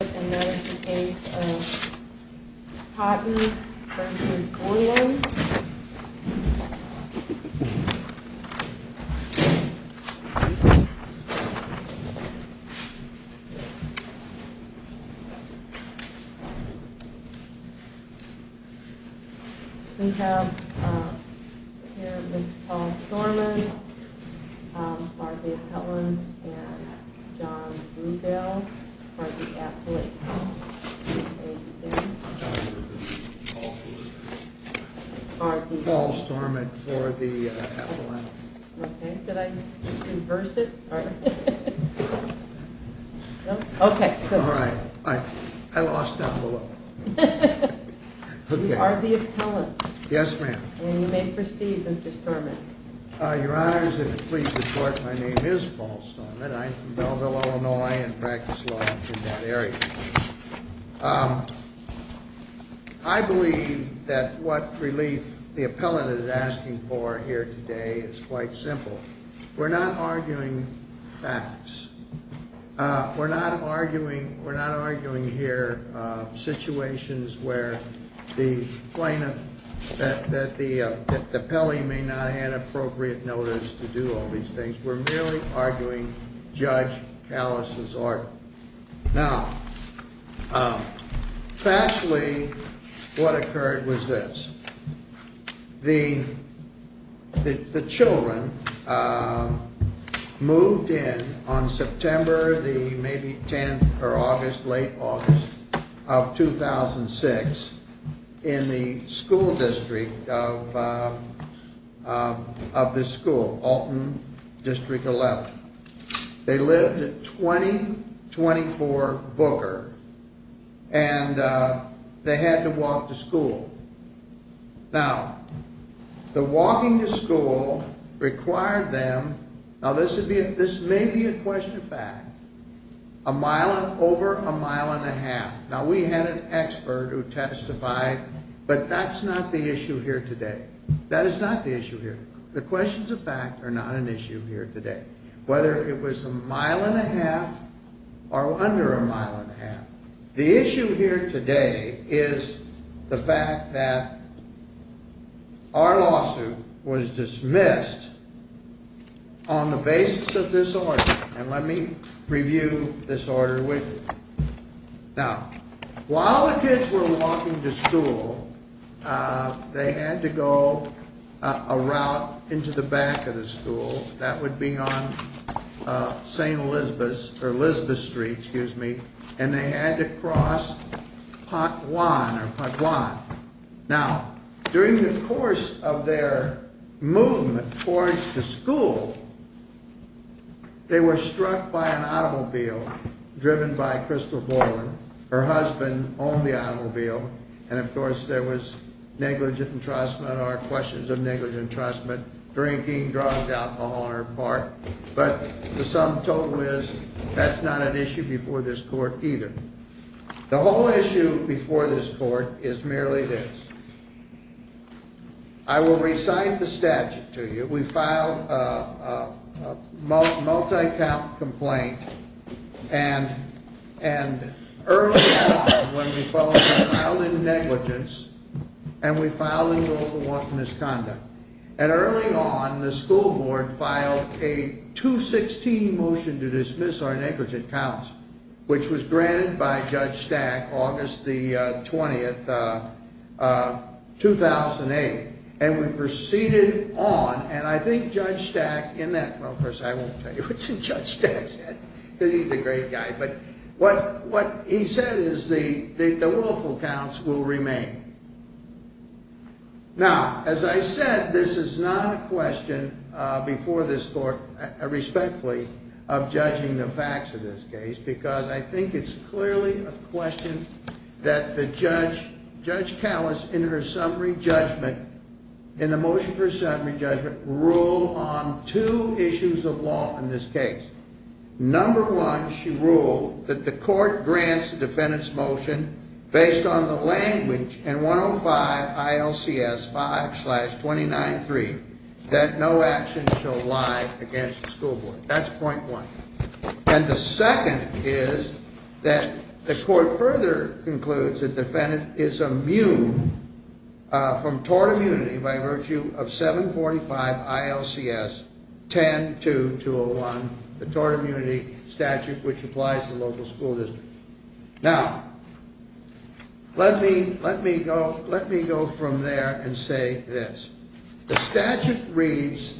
And that is the case of Cotton v. Bourland. We have here Mr. Paul Storlund, Mark A. Petland, and John Bluebell. We have here Mr. Paul Storlund, Mark A. Petland, John Bluebell, Mark A. Petland, and John Bluebell. We have here Mr. Paul Storlund, Mark A. Petland, John Bluebell, Mark A. Petland, John Bluebell, Mark A. Petland, and John Bluebell. Now, factually what occurred was this. The children moved in on September the maybe 10th or August, late August of 2006 in the school district of this school, Alton District 11. They lived at 2024 Booker, and they had to walk to school. Now, the walking to school required them, now this may be a question of fact, over a mile and a half. Now we had an expert who testified, but that's not the issue here today. That is not the issue here. The questions of fact are not an issue here today. Whether it was a mile and a half or under a mile and a half, the issue here today is the fact that our lawsuit was dismissed on the basis of this order. And let me review this order with you. Now, while the kids were walking to school, they had to go a route into the back of the school. That would be on St. Elizabeth or Elizabeth Street, excuse me. And they had to cross Pot Juan or Pot Juan. Now, during the course of their movement towards the school, they were struck by an automobile driven by Crystal Borland. Her husband owned the automobile, and of course there was negligent entrustment or questions of negligent entrustment, drinking, drugs, alcohol on her part. But the sum total is that's not an issue before this court either. The whole issue before this court is merely this. I will recite the statute to you. We filed a multi-count complaint, and early on when we filed it, we filed in negligence, and we filed in goal for misconduct. And early on, the school board filed a 216 motion to dismiss our negligent counts, which was granted by Judge Stack August the 20th, 2008. And we proceeded on, and I think Judge Stack in that, well of course I won't tell you what Judge Stack said, because he's a great guy. But what he said is the willful counts will remain. Now, as I said, this is not a question before this court, respectfully, of judging the facts of this case, because I think it's clearly a question that the judge, Judge Callis, in her summary judgment, in the motion for summary judgment, ruled on two issues of law in this case. Number one, she ruled that the court grants the defendant's motion based on the language in 105 ILCS 5-29-3 that no action shall lie against the school board. That's point one. And the second is that the court further concludes that the defendant is immune from tort immunity by virtue of 745 ILCS 10-2-201, the tort immunity statute which applies to the local school district. Now, let me go from there and say this. The statute reads,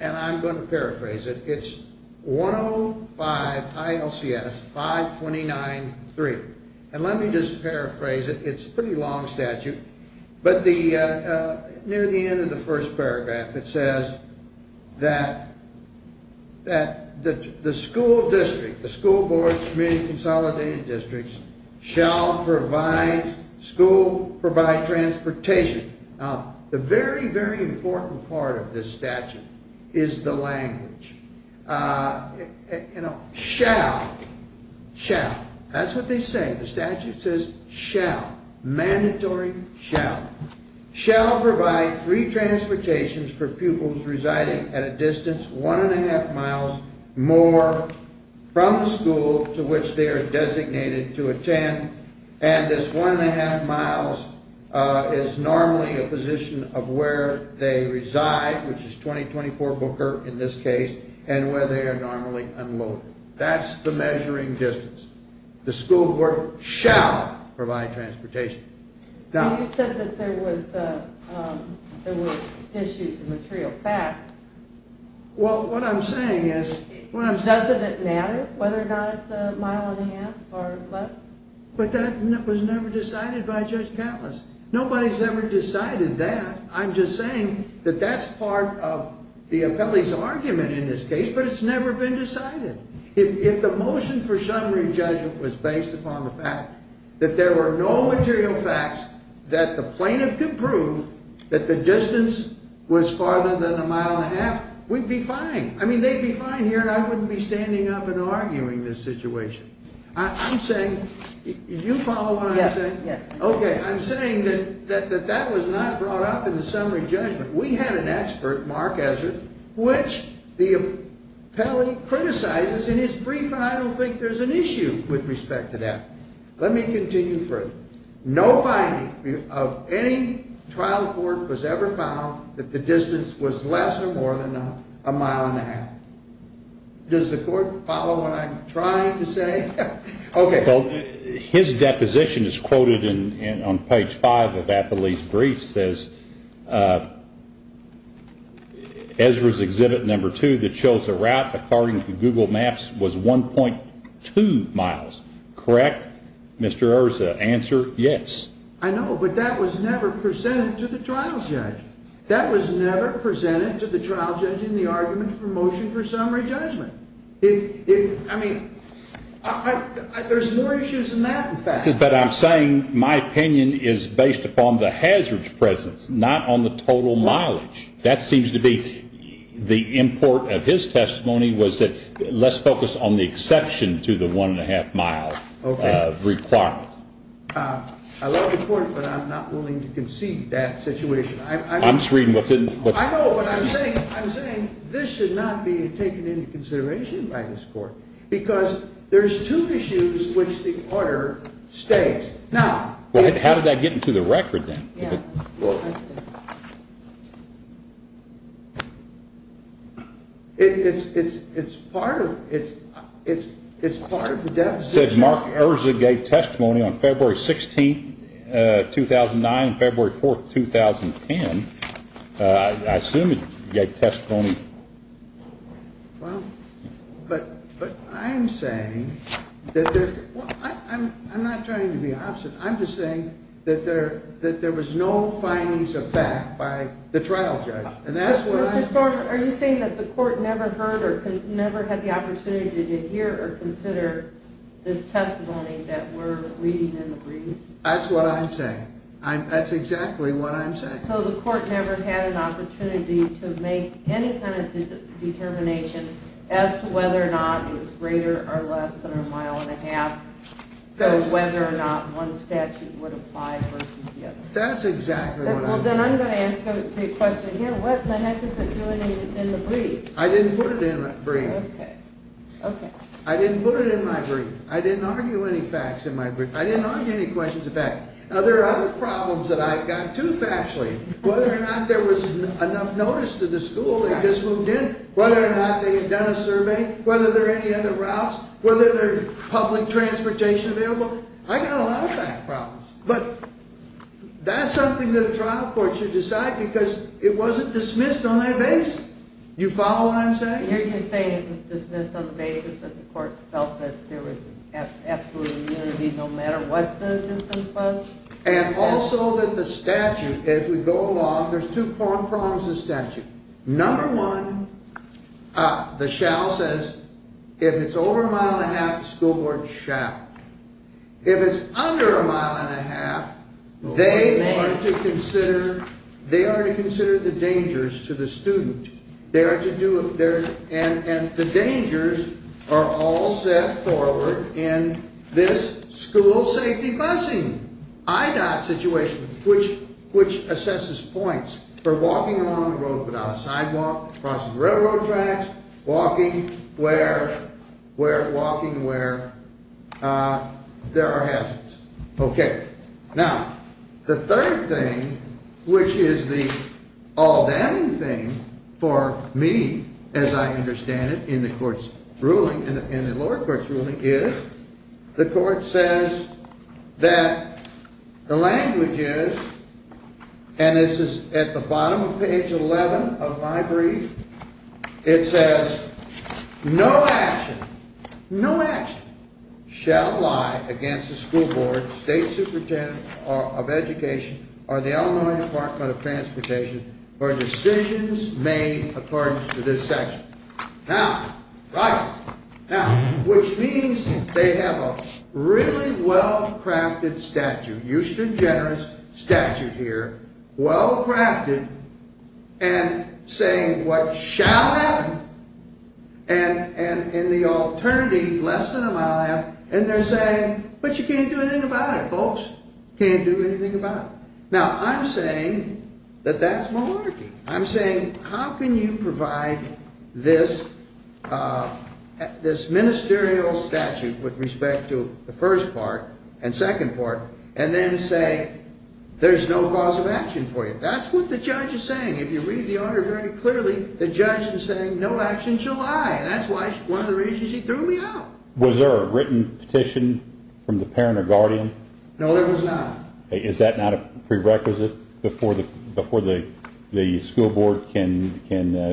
and I'm going to paraphrase it, it's 105 ILCS 5-29-3. And let me just paraphrase it, it's a pretty long statute, but near the end of the first paragraph it says that the school district, the school board, community consolidated districts, shall provide school, provide transportation. Now, the very, very important part of this statute is the language. You know, shall. Shall. That's what they say. The statute says shall. Mandatory shall. Shall provide free transportation for pupils residing at a distance one and a half miles more from the school to which they are designated to attend. And this one and a half miles is normally a position of where they reside, which is 20-24 Booker in this case, and where they are normally unloaded. That's the measuring distance. The school board shall provide transportation. You said that there was issues of material fact. Well, what I'm saying is... Doesn't it matter whether or not it's a mile and a half or less? But that was never decided by Judge Catliss. Nobody's ever decided that. I'm just saying that that's part of the appellee's argument in this case, but it's never been decided. If the motion for summary judgment was based upon the fact that there were no material facts that the plaintiff could prove that the distance was farther than a mile and a half, we'd be fine. I mean, they'd be fine here, and I wouldn't be standing up and arguing this situation. I'm saying... Do you follow what I'm saying? Yes. Okay. I'm saying that that was not brought up in the summary judgment. We had an expert, Mark Ezra, which the appellee criticizes in his brief, and I don't think there's an issue with respect to that. Let me continue further. No finding of any trial court was ever found that the distance was less or more than a mile and a half. Does the court follow what I'm trying to say? Okay. Well, his deposition is quoted on page 5 of the appellee's brief, says, Ezra's exhibit number 2 that shows the route according to Google Maps was 1.2 miles, correct? Mr. Erza, answer, yes. I know, but that was never presented to the trial judge. That was never presented to the trial judge in the argument for motion for summary judgment. I mean, there's more issues than that, in fact. But I'm saying my opinion is based upon the hazard's presence, not on the total mileage. That seems to be the import of his testimony was that let's focus on the exception to the 1.5-mile requirement. Okay. I love the court, but I'm not willing to concede that situation. I'm just reading what's in... I know, but I'm saying this should not be taken into consideration by this court because there's two issues which the order states. Now... Well, how did that get into the record, then? Yeah. It's part of the deposition. It said Mark Erza gave testimony on February 16, 2009 and February 4, 2010. I assume he gave testimony... Well, but I'm saying that there... I'm not trying to be obstinate. I'm just saying that there was no findings of fact by the trial judge, and that's why... Mr. Storm, are you saying that the court never heard or never had the opportunity to hear or consider this testimony that we're reading in the briefs? That's what I'm saying. That's exactly what I'm saying. So the court never had an opportunity to make any kind of determination as to whether or not it was greater or less than a mile and a half, so whether or not one statute would apply versus the other? That's exactly what I'm saying. Well, then I'm going to ask a question here. What the heck is it doing in the brief? I didn't put it in the brief. Okay. I didn't put it in my brief. I didn't argue any facts in my brief. I didn't argue any questions of fact. Now, there are other problems that I've got, too, factually. Whether or not there was enough notice to the school that just moved in, whether or not they had done a survey, whether there were any other routes, whether there was public transportation available. I've got a lot of fact problems. But that's something that a trial court should decide because it wasn't dismissed on that basis. Do you follow what I'm saying? You're just saying it was dismissed on the basis that the court felt that there was absolute immunity no matter what the distance was? And also that the statute, as we go along, there's two prongs to the statute. Number one, the shall says if it's over a mile and a half, the school board shall. If it's under a mile and a half, they are to consider the dangers to the student. And the dangers are all set forward in this school safety busing, IDOT situation, which assesses points for walking along the road without a sidewalk, crossing railroad tracks, walking where there are hazards. Now, the third thing, which is the all-damning thing for me, as I understand it, in the lower court's ruling, is the court says that the language is, and this is at the bottom of page 11 of my brief, it says no action, no action, shall lie against the school board, state superintendent of education, or the Illinois Department of Transportation for decisions made according to this section. Now, which means they have a really well-crafted statute, Euston Generous statute here, well-crafted, and saying what shall happen, and the alternative, less than a mile and a half, and they're saying, but you can't do anything about it, folks, can't do anything about it. Now, I'm saying that that's malarkey. I'm saying how can you provide this ministerial statute with respect to the first part and second part, and then say there's no cause of action for you? That's what the judge is saying. If you read the order very clearly, the judge is saying no action shall lie, and that's one of the reasons he threw me out. Was there a written petition from the parent or guardian? No, there was not. Is that not a prerequisite before the school board can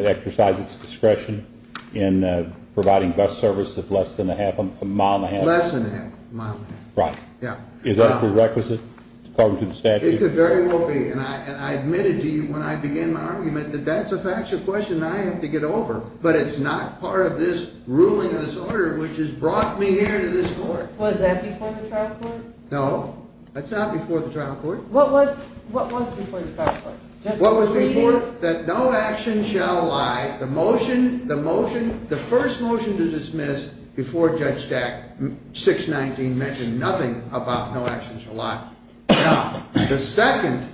exercise its discretion in providing bus service of less than a mile and a half? Less than a mile and a half. Right. Yeah. Is that a prerequisite according to the statute? It could very well be, and I admitted to you when I began my argument that that's a factual question I have to get over, but it's not part of this ruling of this order which has brought me here to this court. Was that before the trial court? No, that's not before the trial court. What was before the trial court? What was before, that no action shall lie, the motion, the motion, the first motion to dismiss before Judge Stack, 619, mentioned nothing about no action shall lie. Now, the second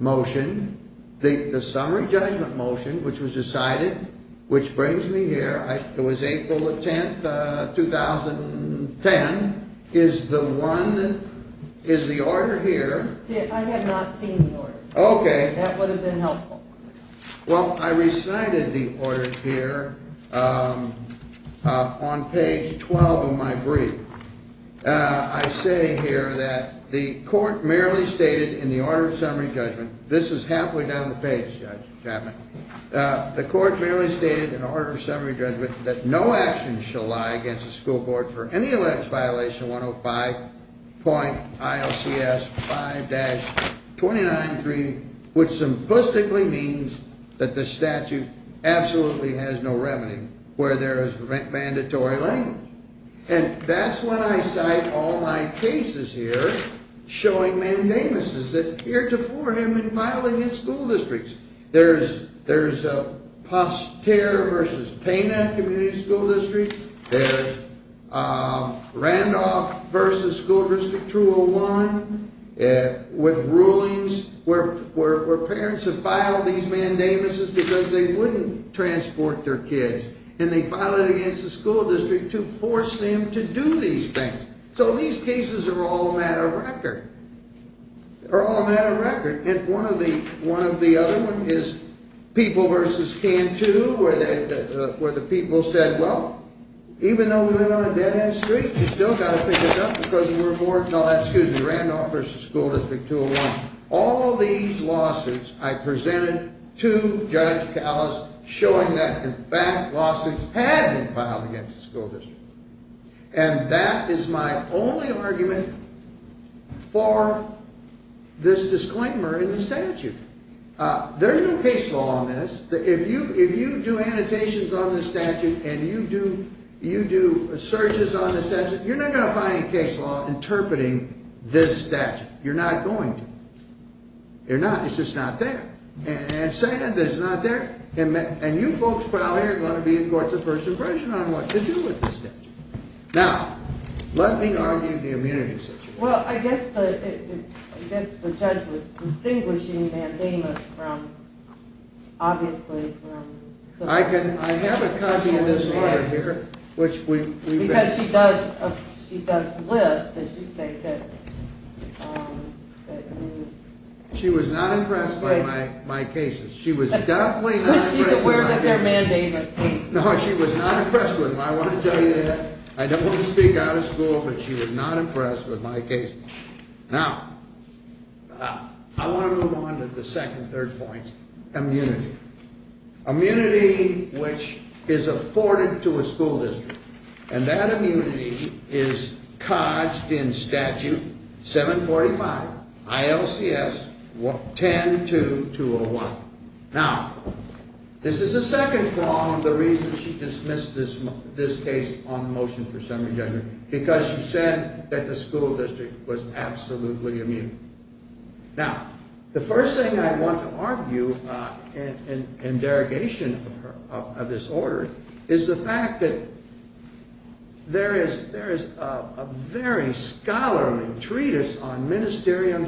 motion, the summary judgment motion which was decided, which brings me here, it was April the 10th, 2010, is the one, is the order here. I have not seen the order. Okay. That would have been helpful. Well, I recited the order here on page 12 of my brief. I say here that the court merely stated in the order of summary judgment, this is halfway down the page, Judge Chapman, the court merely stated in order of summary judgment that no action shall lie against the school board for any alleged violation of 105.ILCS 5-29.3, which simplistically means that the statute absolutely has no remedy where there is mandatory language. And that's when I cite all my cases here showing mandamuses that heretofore have been filed against school districts. There's Postera v. Pena Community School District. There's Randolph v. School District 201 with rulings where parents have filed these mandamuses because they wouldn't transport their kids. And they filed it against the school district to force them to do these things. So these cases are all a matter of record. They're all a matter of record. And one of the other ones is People v. Cantu where the people said, well, even though we live on a dead-end street, you've still got to pick it up because we're more – no, excuse me, Randolph v. School District 201. All these lawsuits I presented to Judge Callas showing that, in fact, lawsuits had been filed against the school district. And that is my only argument for this disclaimer in the statute. There's no case law on this. If you do annotations on the statute and you do searches on the statute, you're not going to find a case law interpreting this statute. You're not going to. You're not. It's just not there. And second, it's not there. And you folks out here are going to be in court's first impression on what to do with this statute. Now, let me argue the immunity situation. Well, I guess the judge was distinguishing mandamus from – obviously from – I have a copy of this letter here, which we – Because she does list, as you say, that – She was not impressed by my cases. She was definitely not impressed with my cases. No, she was not impressed with them. I want to tell you that. I don't want to speak out of school, but she was not impressed with my cases. Now, I want to move on to the second, third point, immunity. Immunity which is afforded to a school district. And that immunity is codged in Statute 745, ILCS 10.2.201. Now, this is the second prong of the reasons she dismissed this case on motion for summary judgment, because she said that the school district was absolutely immune. Now, the first thing I want to argue in derogation of this order is the fact that there is a very scholarly treatise on ministerium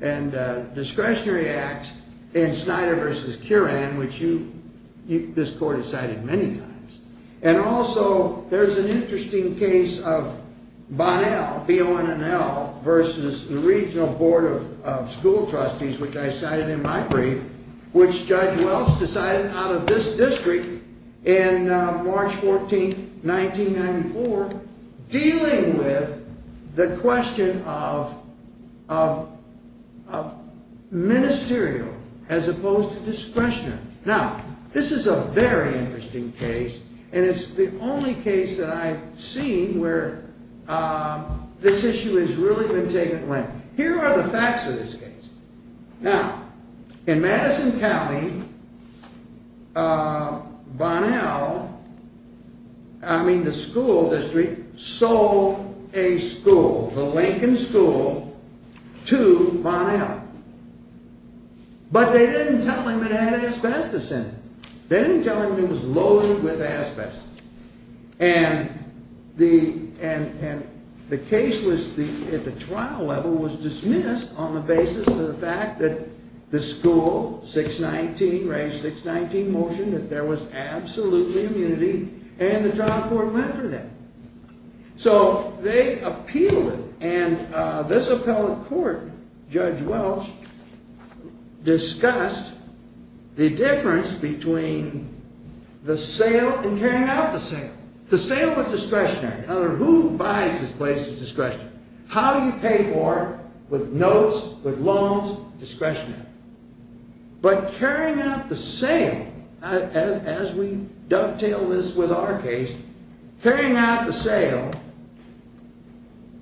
and discretionary acts in Snyder v. Curran, which you – this court has cited many times. And also, there's an interesting case of Bonnell, B-O-N-N-L, versus the Regional Board of School Trustees, which I cited in my brief, which Judge Welch decided out of this district in March 14, 1994, dealing with the question of ministerial as opposed to discretionary. Now, this is a very interesting case, and it's the only case that I've seen where this issue has really been taken lightly. Here are the facts of this case. Now, in Madison County, Bonnell, I mean the school district, sold a school, the Lincoln School, to Bonnell. But they didn't tell him it had asbestos in it. They didn't tell him it was loaded with asbestos. And the case was, at the trial level, was dismissed on the basis of the fact that the school, 619, Range 619, motioned that there was absolutely immunity, and the trial court went for that. So they appealed it, and this appellate court, Judge Welch, discussed the difference between the sale and carrying out the sale. The sale was discretionary. In other words, who buys this place is discretionary. How do you pay for it? With notes, with loans, discretionary. But carrying out the sale, as we dovetail this with our case, carrying out the sale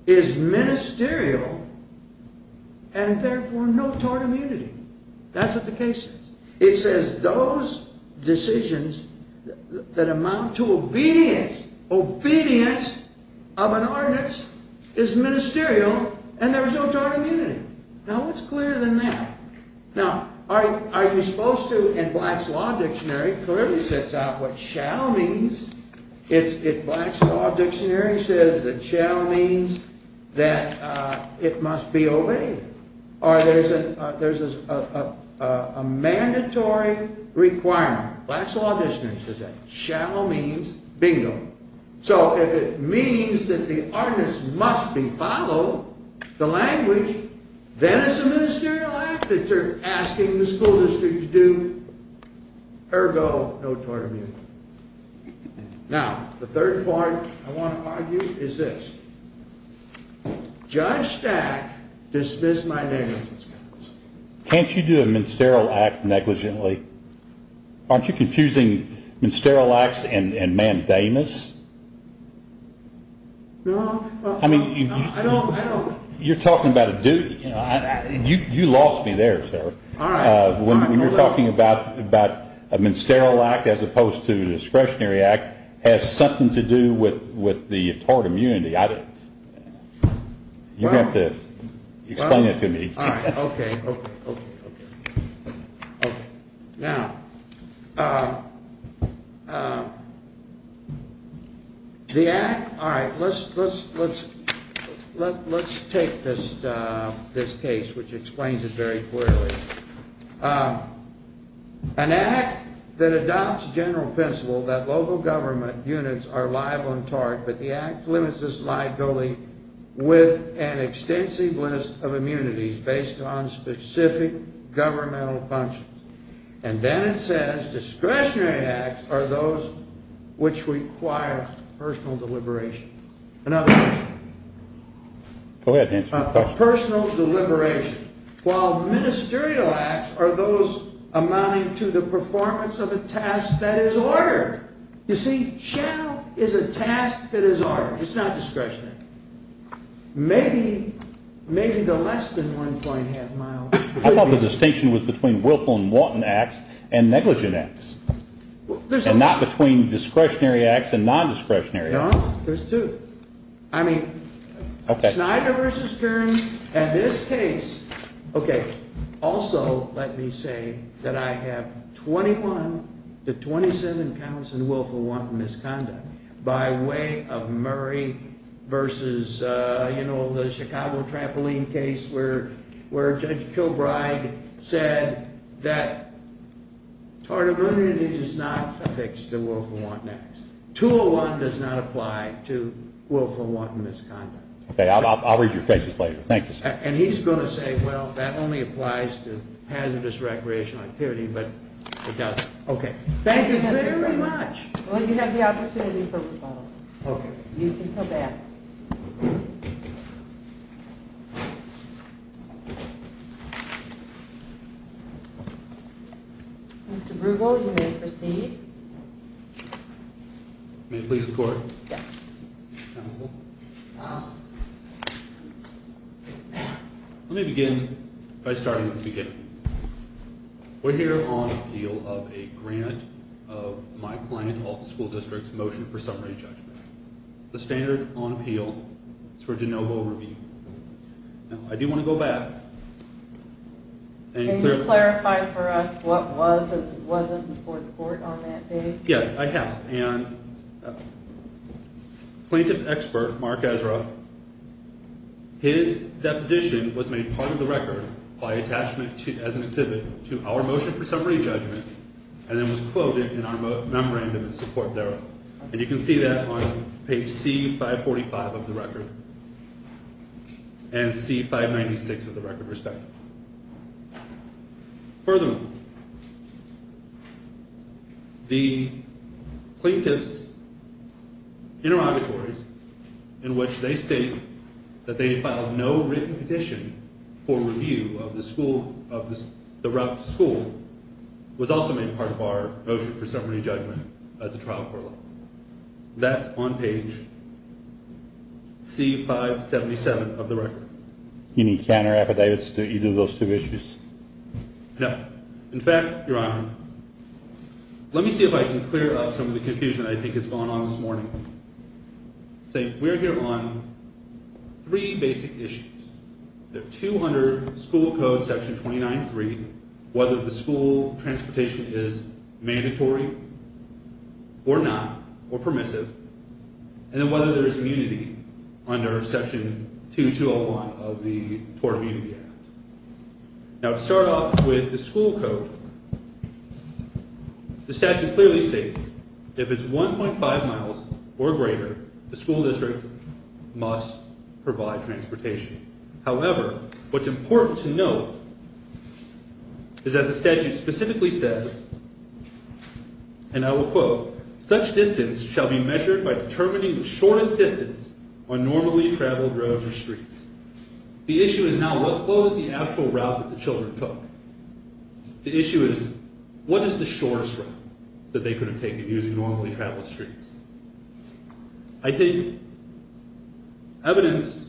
is ministerial and therefore no tort immunity. That's what the case is. It says those decisions that amount to obedience, obedience of an ordinance, is ministerial and there's no tort immunity. Now, what's clearer than that? Now, are you supposed to, in Black's Law Dictionary, it clearly sets out what shall means. If Black's Law Dictionary says that shall means that it must be obeyed, or there's a mandatory requirement, Black's Law Dictionary says that, shall means, bingo. So if it means that the ordinance must be followed, the language, then it's a ministerial act that they're asking the school district to do, ergo, no tort immunity. Now, the third point I want to argue is this. Judge Stack dismissed my negligence. Can't you do a ministerial act negligently? Aren't you confusing ministerial acts and Ma'am Damas? No. I mean, you're talking about a duty. You lost me there, sir. When you're talking about a ministerial act as opposed to a discretionary act, has something to do with the tort immunity. You have to explain it to me. All right. Okay. Now, the act, all right, let's take this case, which explains it very clearly. An act that adopts general principle that local government units are liable in tort, but the act limits this liability with an extensive list of immunities based on specific governmental functions. And then it says discretionary acts are those which require personal deliberation. Personal deliberation. While ministerial acts are those amounting to the performance of a task that is ordered. You see, channel is a task that is ordered. It's not discretionary. Maybe the less than one point half mile. I thought the distinction was between willful and wanton acts and negligent acts. There's two. I mean, Schneider versus Kearns and this case. Okay. Also, let me say that I have 21 to 27 counts in willful wanton misconduct by way of Murray versus, you know, the Chicago trampoline case where Judge Kilbride said that tort immunity does not fix the willful wanton acts. 201 does not apply to willful wanton misconduct. Okay. I'll read your cases later. Thank you, sir. And he's going to say, well, that only applies to hazardous recreational activity, but it doesn't. Okay. Thank you very much. Well, you have the opportunity for rebuttal. Okay. You can go back. Mr. Bruegel, you may proceed. May it please the Court? Yes. Counsel? Yes. Let me begin by starting at the beginning. We're here on appeal of a grant of my client, all the school districts, motion for summary judgment. The standard on appeal for de novo review. Now, I do want to go back. Can you clarify for us what was and wasn't before the Court on that day? Yes, I have. And plaintiff's expert, Mark Ezra, his deposition was made part of the record by attachment as an exhibit to our motion for summary judgment and then was quoted in our memorandum of support there. And you can see that on page C545 of the record and C596 of the record, respectively. Furthermore, the plaintiff's interrogatories in which they state that they filed no written petition for review of the route to school was also made part of our motion for summary judgment at the trial court level. That's on page C577 of the record. Any counterappetites to either of those two issues? No. In fact, Your Honor, let me see if I can clear up some of the confusion I think has gone on this morning. We're here on three basic issues. They're two under school code section 29.3, whether the school transportation is mandatory or not, or permissive, and then whether there is immunity under section 2201 of the TOR Immunity Act. Now, to start off with the school code, the statute clearly states if it's 1.5 miles or greater, the school district must provide transportation. However, what's important to note is that the statute specifically says, and I will quote, such distance shall be measured by determining the shortest distance on normally traveled roads or streets. The issue is now what was the actual route that the children took? The issue is what is the shortest route that they could have taken using normally traveled streets? I think evidence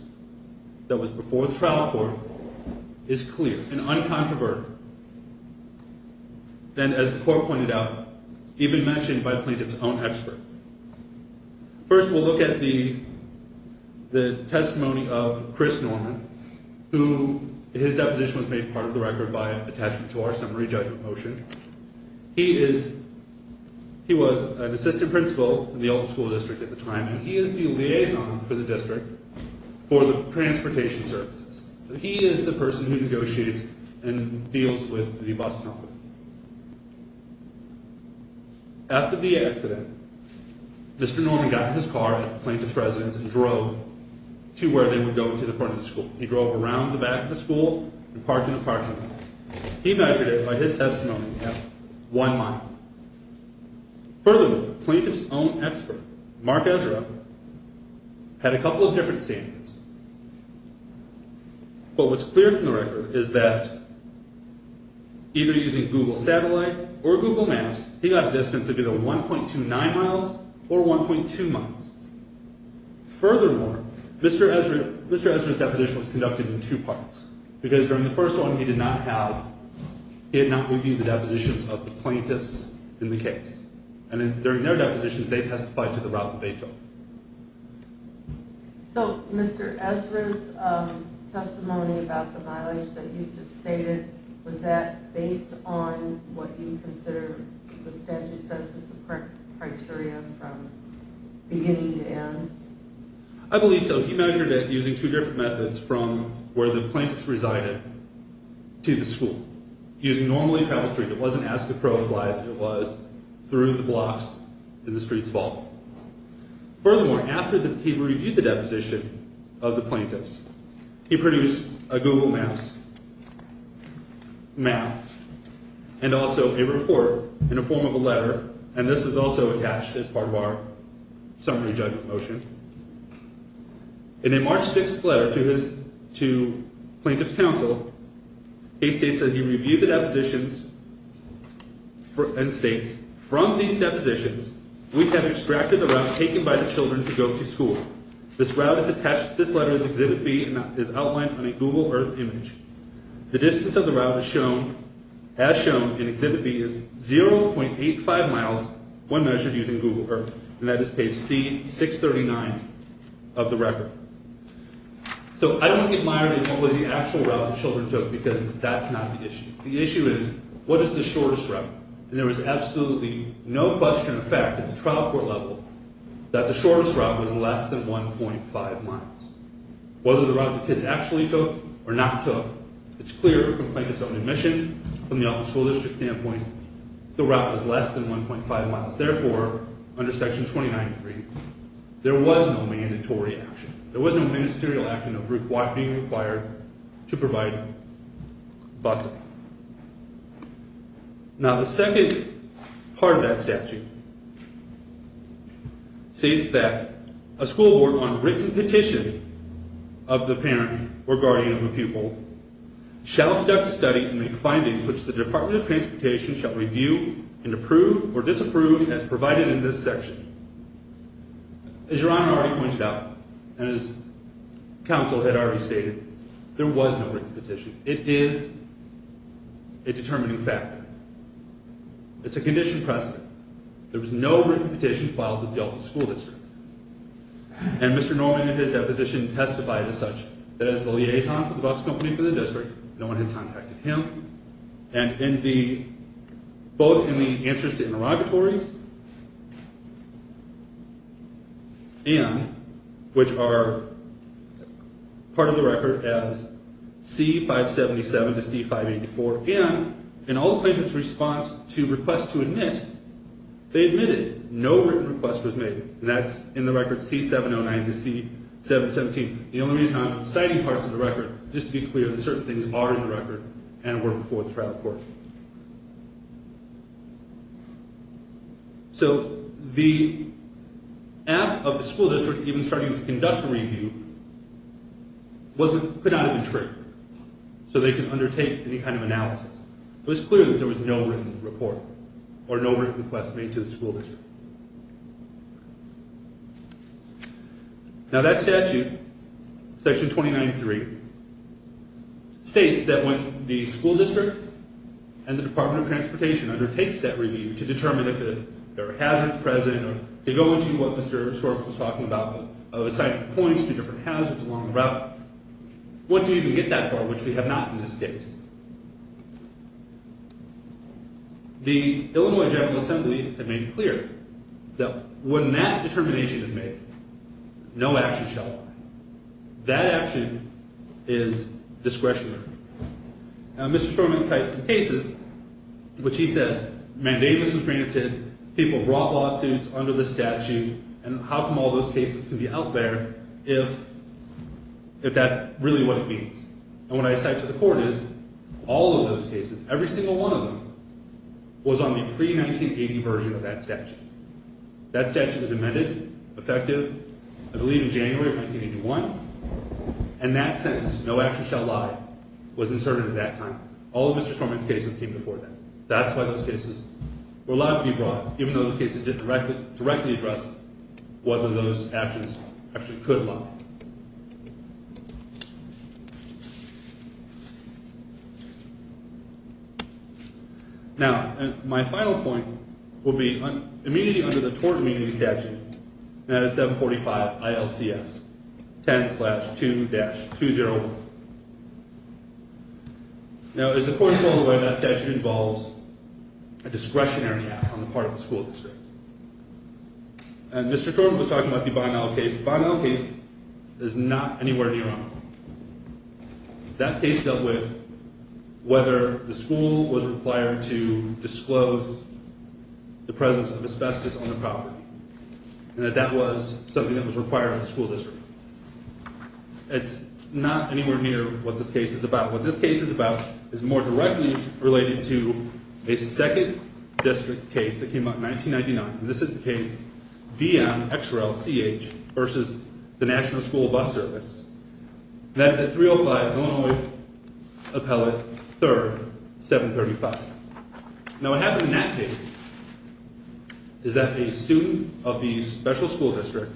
that was before the trial court is clear and uncontroverted, and as the court pointed out, even mentioned by the plaintiff's own expert. First, we'll look at the testimony of Chris Norman, who his deposition was made part of the record by attachment to our summary judgment motion. He was an assistant principal in the old school district at the time, and he is the liaison for the district for the transportation services. He is the person who negotiates and deals with the bus company. After the accident, Mr. Norman got in his car at the plaintiff's residence and drove to where they would go into the front of the school. He drove around the back of the school and parked in a parking lot. He measured it by his testimony at one mile. Furthermore, the plaintiff's own expert, Mark Ezra, had a couple of different standards, but what's clear from the record is that either using Google Satellite or Google Maps, he got a distance of either 1.29 miles or 1.2 miles. Furthermore, Mr. Ezra's deposition was conducted in two parts. Because during the first one, he did not review the depositions of the plaintiffs in the case. And during their depositions, they testified to the route that they took. So, Mr. Ezra's testimony about the mileage that you just stated, was that based on what you consider the statute says as the criteria from beginning to end? I believe so. He measured it using two different methods from where the plaintiffs resided to the school. Using normally traveled traffic, it wasn't as deprofiled as it was through the blocks in the street's vault. Furthermore, after he reviewed the deposition of the plaintiffs, he produced a Google Maps map and also a report in the form of a letter. And this was also attached as part of our summary judgment motion. In a March 6th letter to plaintiff's counsel, he states that he reviewed the depositions and states, from these depositions, we have extracted the route taken by the children to go to school. This route is attached to this letter as Exhibit B and is outlined on a Google Earth image. The distance of the route as shown in Exhibit B is 0.85 miles when measured using Google Earth. And that is page C-639 of the record. So I don't admire the actual route the children took because that's not the issue. The issue is, what is the shortest route? And there was absolutely no question of fact at the trial court level that the shortest route was less than 1.5 miles. Whether the route the kids actually took or not took, it's clear from plaintiff's own admission, from the office school district standpoint, the route was less than 1.5 miles. Therefore, under Section 29.3, there was no mandatory action. There was no ministerial action of route being required to provide busing. Now the second part of that statute states that a school board on written petition of the parent or guardian of a pupil shall conduct a study and make findings which the Department of Transportation shall review and approve or disapprove as provided in this section. As Your Honor already pointed out, and as counsel had already stated, there was no written petition. It is a determining factor. It's a condition precedent. There was no written petition filed at the office school district. And Mr. Norman in his deposition testified as such. That as the liaison for the bus company for the district, no one had contacted him. And both in the answers to interrogatories, and which are part of the record as C-577 to C-584, and in all plaintiff's response to requests to admit, they admitted no written request was made. And that's in the record C-709 to C-717. The only reason I'm citing parts of the record is just to be clear that certain things are in the record and were before the trial court. So the act of the school district even starting to conduct a review could not have been triggered. So they could undertake any kind of analysis. It was clear that there was no written report or no written request made to the school district. Now that statute, section 2993, states that when the school district and the Department of Transportation undertakes that review to determine if there are hazards present, or to go into what Mr. Sorkin was talking about, of assigning points to different hazards along the route, once we even get that far, which we have not in this case. The Illinois General Assembly had made it clear that when that determination is made, no action shall apply. That action is discretionary. Now Mr. Sorkin cites some cases, which he says mandamus was granted, people brought lawsuits under the statute, and how come all those cases can be out there if that's really what it means. And what I cite to the court is all of those cases, every single one of them, was on the pre-1980 version of that statute. That statute was amended, effective, I believe in January of 1981, and that sentence, no action shall lie, was inserted at that time. All of Mr. Sorkin's cases came before that. That's why those cases were allowed to be brought, even though those cases didn't directly address whether those actions actually could lie. Now, my final point will be immunity under the tort immunity statute, and that is 745 ILCS, 10-2-201. Now, as the court told the way that statute involves a discretionary act on the part of the school district. And Mr. Sorkin was talking about the Bonnell case. Bonnell case is not anywhere near on. That case dealt with whether the school was required to disclose the presence of asbestos on the property, and that that was something that was required of the school district. It's not anywhere near what this case is about. What this case is about is more directly related to a second district case that came out in 1999. This is the case DMXRLCH versus the National School Bus Service. That's at 305 Illinois Appellate 3rd, 735. Now, what happened in that case is that a student of the special school district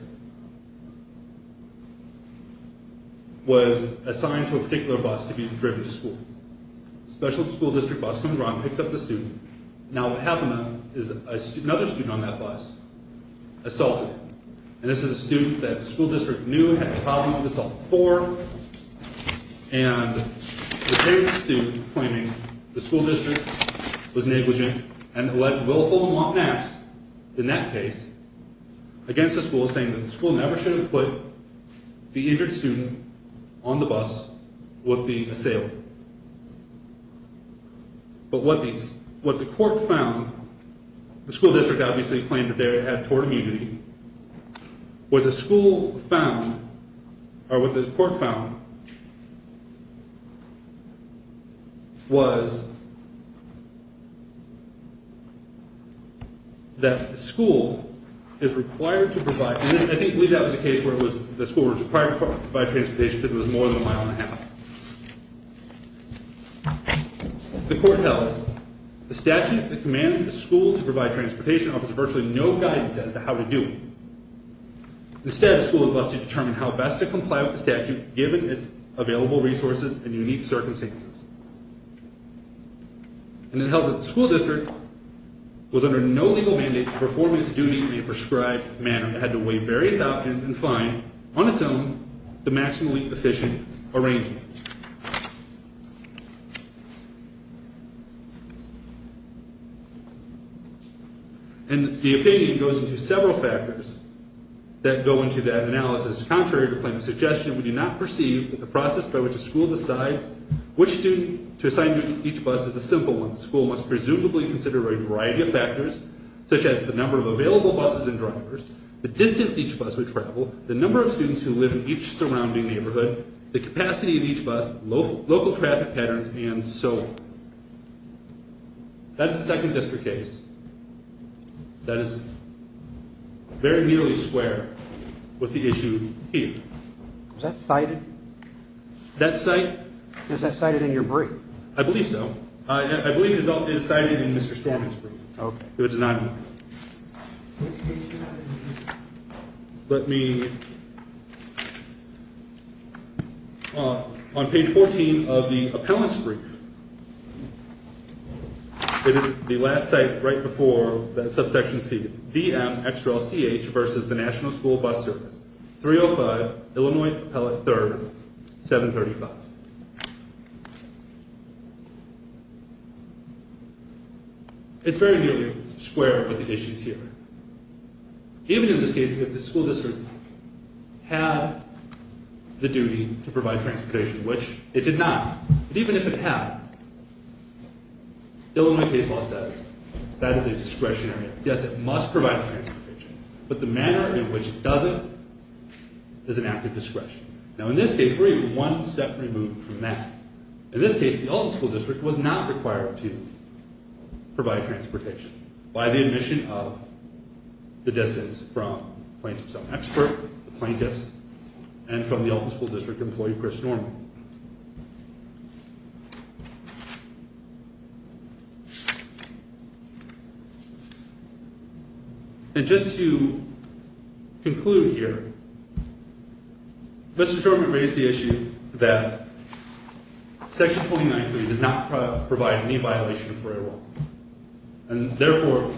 was assigned to a particular bus to be driven to school. Special school district bus comes around, picks up the student. Now, what happened then is another student on that bus assaulted. And this is a student that the school district knew had a copy of the assault form, and the student claiming the school district was negligent and alleged willful mothmaps in that case against the school, saying that the school never should have put the injured student on the bus with the assailant. But what the court found, the school district obviously claimed that they had tort immunity. What the school found, or what the court found, was that the school is required to provide, and I believe that was a case where the school was required to provide transportation because it was more than a mile and a half. The court held the statute that commands the school to provide transportation offers virtually no guidance as to how to do it. Instead, the school is left to determine how best to comply with the statute given its available resources and unique circumstances. And it held that the school district was under no legal mandate to perform its duty in a prescribed manner. It had to weigh various options and find on its own the maximally efficient arrangement. And the opinion goes into several factors that go into that analysis. Contrary to claim and suggestion, we do not perceive that the process by which a school decides which student to assign to each bus is a simple one. The school must presumably consider a variety of factors, such as the number of available buses and drivers, the distance each bus would travel, the number of students who live in each surrounding neighborhood, the capacity of each bus, local traffic patterns, and so on. That is the second district case. That is very nearly square with the issue here. Was that cited? That cite? Was that cited in your brief? I believe so. I believe it is cited in Mr. Storm's brief. Okay. It was not in mine. Let me... On page 14 of the appellant's brief, it is the last cite right before that subsection C. It's DMXRLCH versus the National School Bus Service, 305 Illinois Appellate 3rd, 735. It's very nearly square with the issues here. Even in this case, because the school district had the duty to provide transportation, which it did not. But even if it had, Illinois case law says that is a discretionary act. Yes, it must provide transportation. But the manner in which it doesn't is an act of discretion. Now, in this case, we're even one step removed from that. In this case, the Elder School District was not required to provide transportation by the admission of the distance from plaintiff's own expert, the plaintiffs, and from the Elder School District employee, Chris Norman. And just to conclude here, Mr. Norman raised the issue that Section 29.3 does not provide any violation of 4A law. And therefore,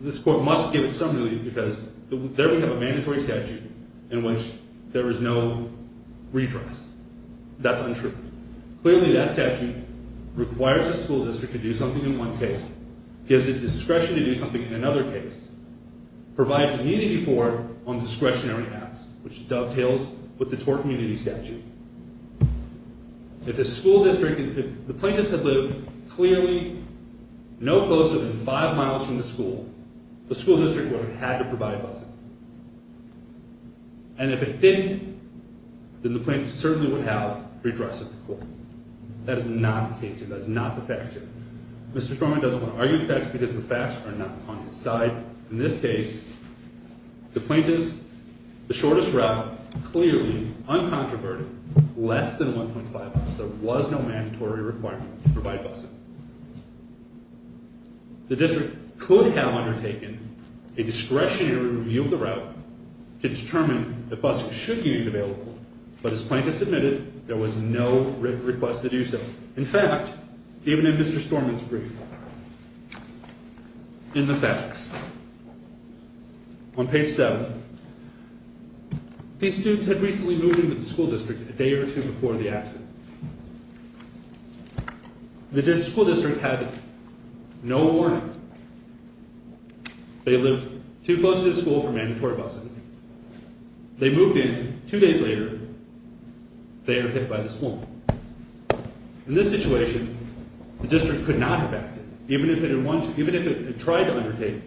this court must give it some relief because there we have a mandatory statute in which there is no redress. That's untrue. Clearly, that statute requires the school district to do something in one case, gives it discretion to do something in another case, provides immunity for it on discretionary acts, which dovetails with the tort immunity statute. If the plaintiffs had lived clearly no closer than five miles from the school, the school district would have had to provide a bus. And if it didn't, then the plaintiffs certainly would have redressed it to court. That is not the case here. That is not the facts here. Mr. Norman doesn't want to argue the facts because the facts are not on his side. In this case, the plaintiffs, the shortest route, clearly, uncontroverted, less than 1.5 miles. There was no mandatory requirement to provide a bus. The district could have undertaken a discretionary review of the route to determine if buses should be made available, but as plaintiffs admitted, there was no request to do so. In fact, even in Mr. Norman's brief, in the facts, on page 7, these students had recently moved into the school district a day or two before the accident. The school district had no warning. They lived too close to the school for mandatory buses. They moved in. Two days later, they are hit by the school. In this situation, the district could not have acted, even if it tried to undertake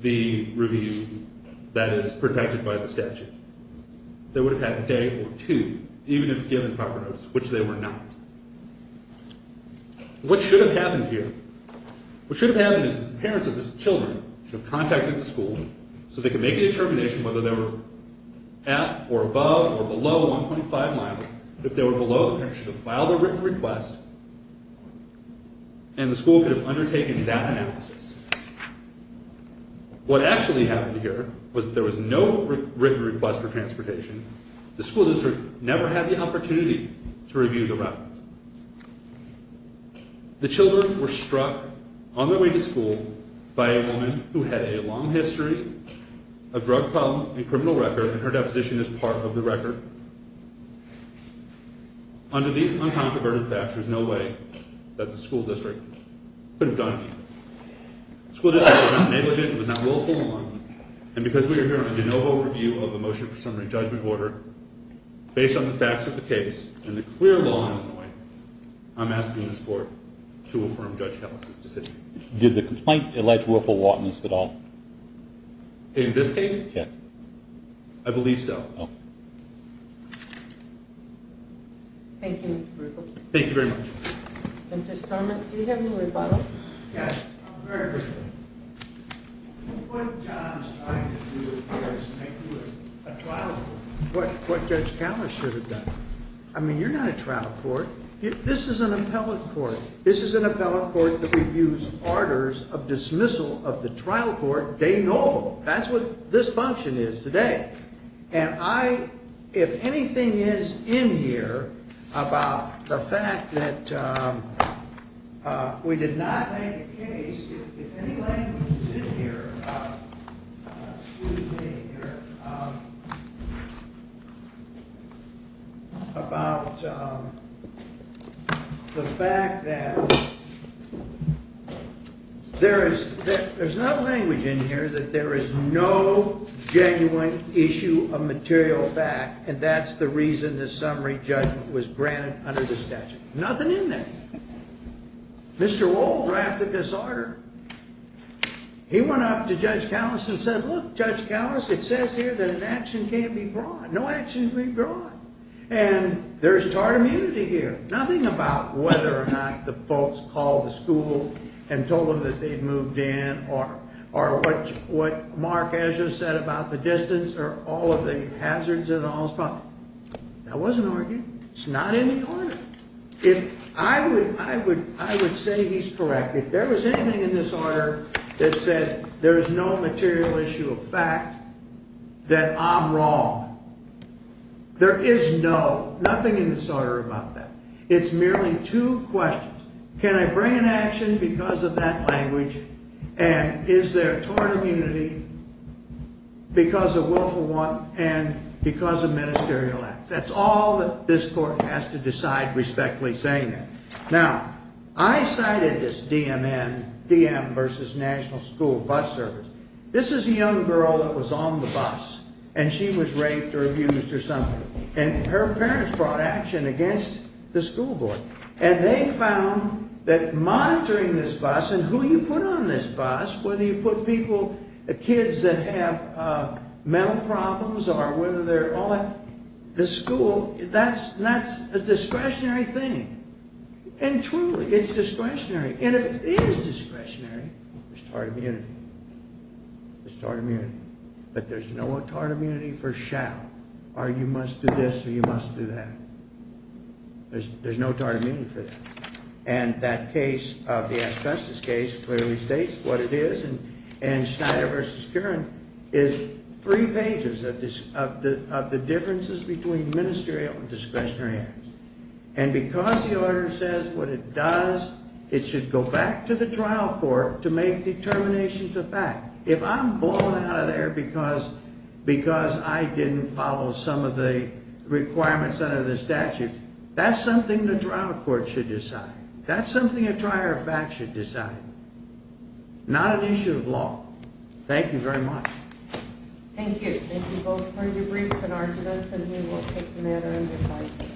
the review that is protected by the statute. They would have had a day or two, even if given proper notice, which they were not. What should have happened here? What should have happened is the parents of these children should have contacted the school so they could make a determination whether they were at or above or below 1.5 miles. If they were below, the parents should have filed a written request, and the school could have undertaken that analysis. What actually happened here was that there was no written request for transportation. The school district never had the opportunity to review the record. The children were struck on their way to school by a woman who had a long history of drug problems and a criminal record, and her deposition is part of the record. Under these uncontroverted facts, there is no way that the school district could have done anything. The school district was not negligent. It was not willful. And because we are here on a de novo review of the motion for summary judgment order, based on the facts of the case and the clear law on the way, I'm asking this court to affirm Judge Ellis' decision. Did the complaint allege Whirlpool-Watkins at all? In this case? Yes. I believe so. Thank you, Mr. Whirlpool. Thank you very much. Mr. Stormont, do you have any rebuttals? Yes, I'm very grateful. What John is trying to do here is make Whirlpool a trial court. What Judge Ellis should have done. I mean, you're not a trial court. This is an appellate court. This is an appellate court that reviews orders of dismissal of the trial court de novo. That's what this function is today. And I, if anything is in here about the fact that we did not make a case, if any language is in here about the fact that there is no language in here that there is no genuine issue of material fact, and that's the reason the summary judgment was granted under the statute. Nothing in there. Mr. Wohl drafted this order. He went up to Judge Callis and said, look, Judge Callis, it says here that an action can't be brought. No action can be brought. And there's tarred immunity here. Nothing about whether or not the folks called the school and told them that they'd moved in or what Mark Ezra said about the distance or all of the hazards and all those problems. That wasn't argued. It's not in the order. I would say he's correct. If there was anything in this order that said there's no material issue of fact, that I'm wrong. There is no, nothing in this order about that. It's merely two questions. Can I bring an action because of that language? And is there tarred immunity because of willful want and because of ministerial acts? That's all that this court has to decide respectfully saying that. Now, I cited this DMN, DM versus National School Bus Service. This is a young girl that was on the bus, and she was raped or abused or something, and her parents brought action against the school board. And they found that monitoring this bus and who you put on this bus, whether you put people, kids that have mental problems or whether they're all that, the school, that's a discretionary thing. And truly, it's discretionary. And if it is discretionary, there's tarred immunity. There's tarred immunity. But there's no tarred immunity for shall or you must do this or you must do that. There's no tarred immunity for that. And that case of the ass justice case clearly states what it is. And Schneider versus Curran is three pages of the differences between ministerial and discretionary acts. And because the order says what it does, it should go back to the trial court to make determinations of fact. If I'm blown out of there because I didn't follow some of the requirements under the statute, that's something the trial court should decide. That's something a trier of fact should decide, not an issue of law. Thank you very much. Thank you. Thank you both for your briefs and arguments, and we will take the matter into court.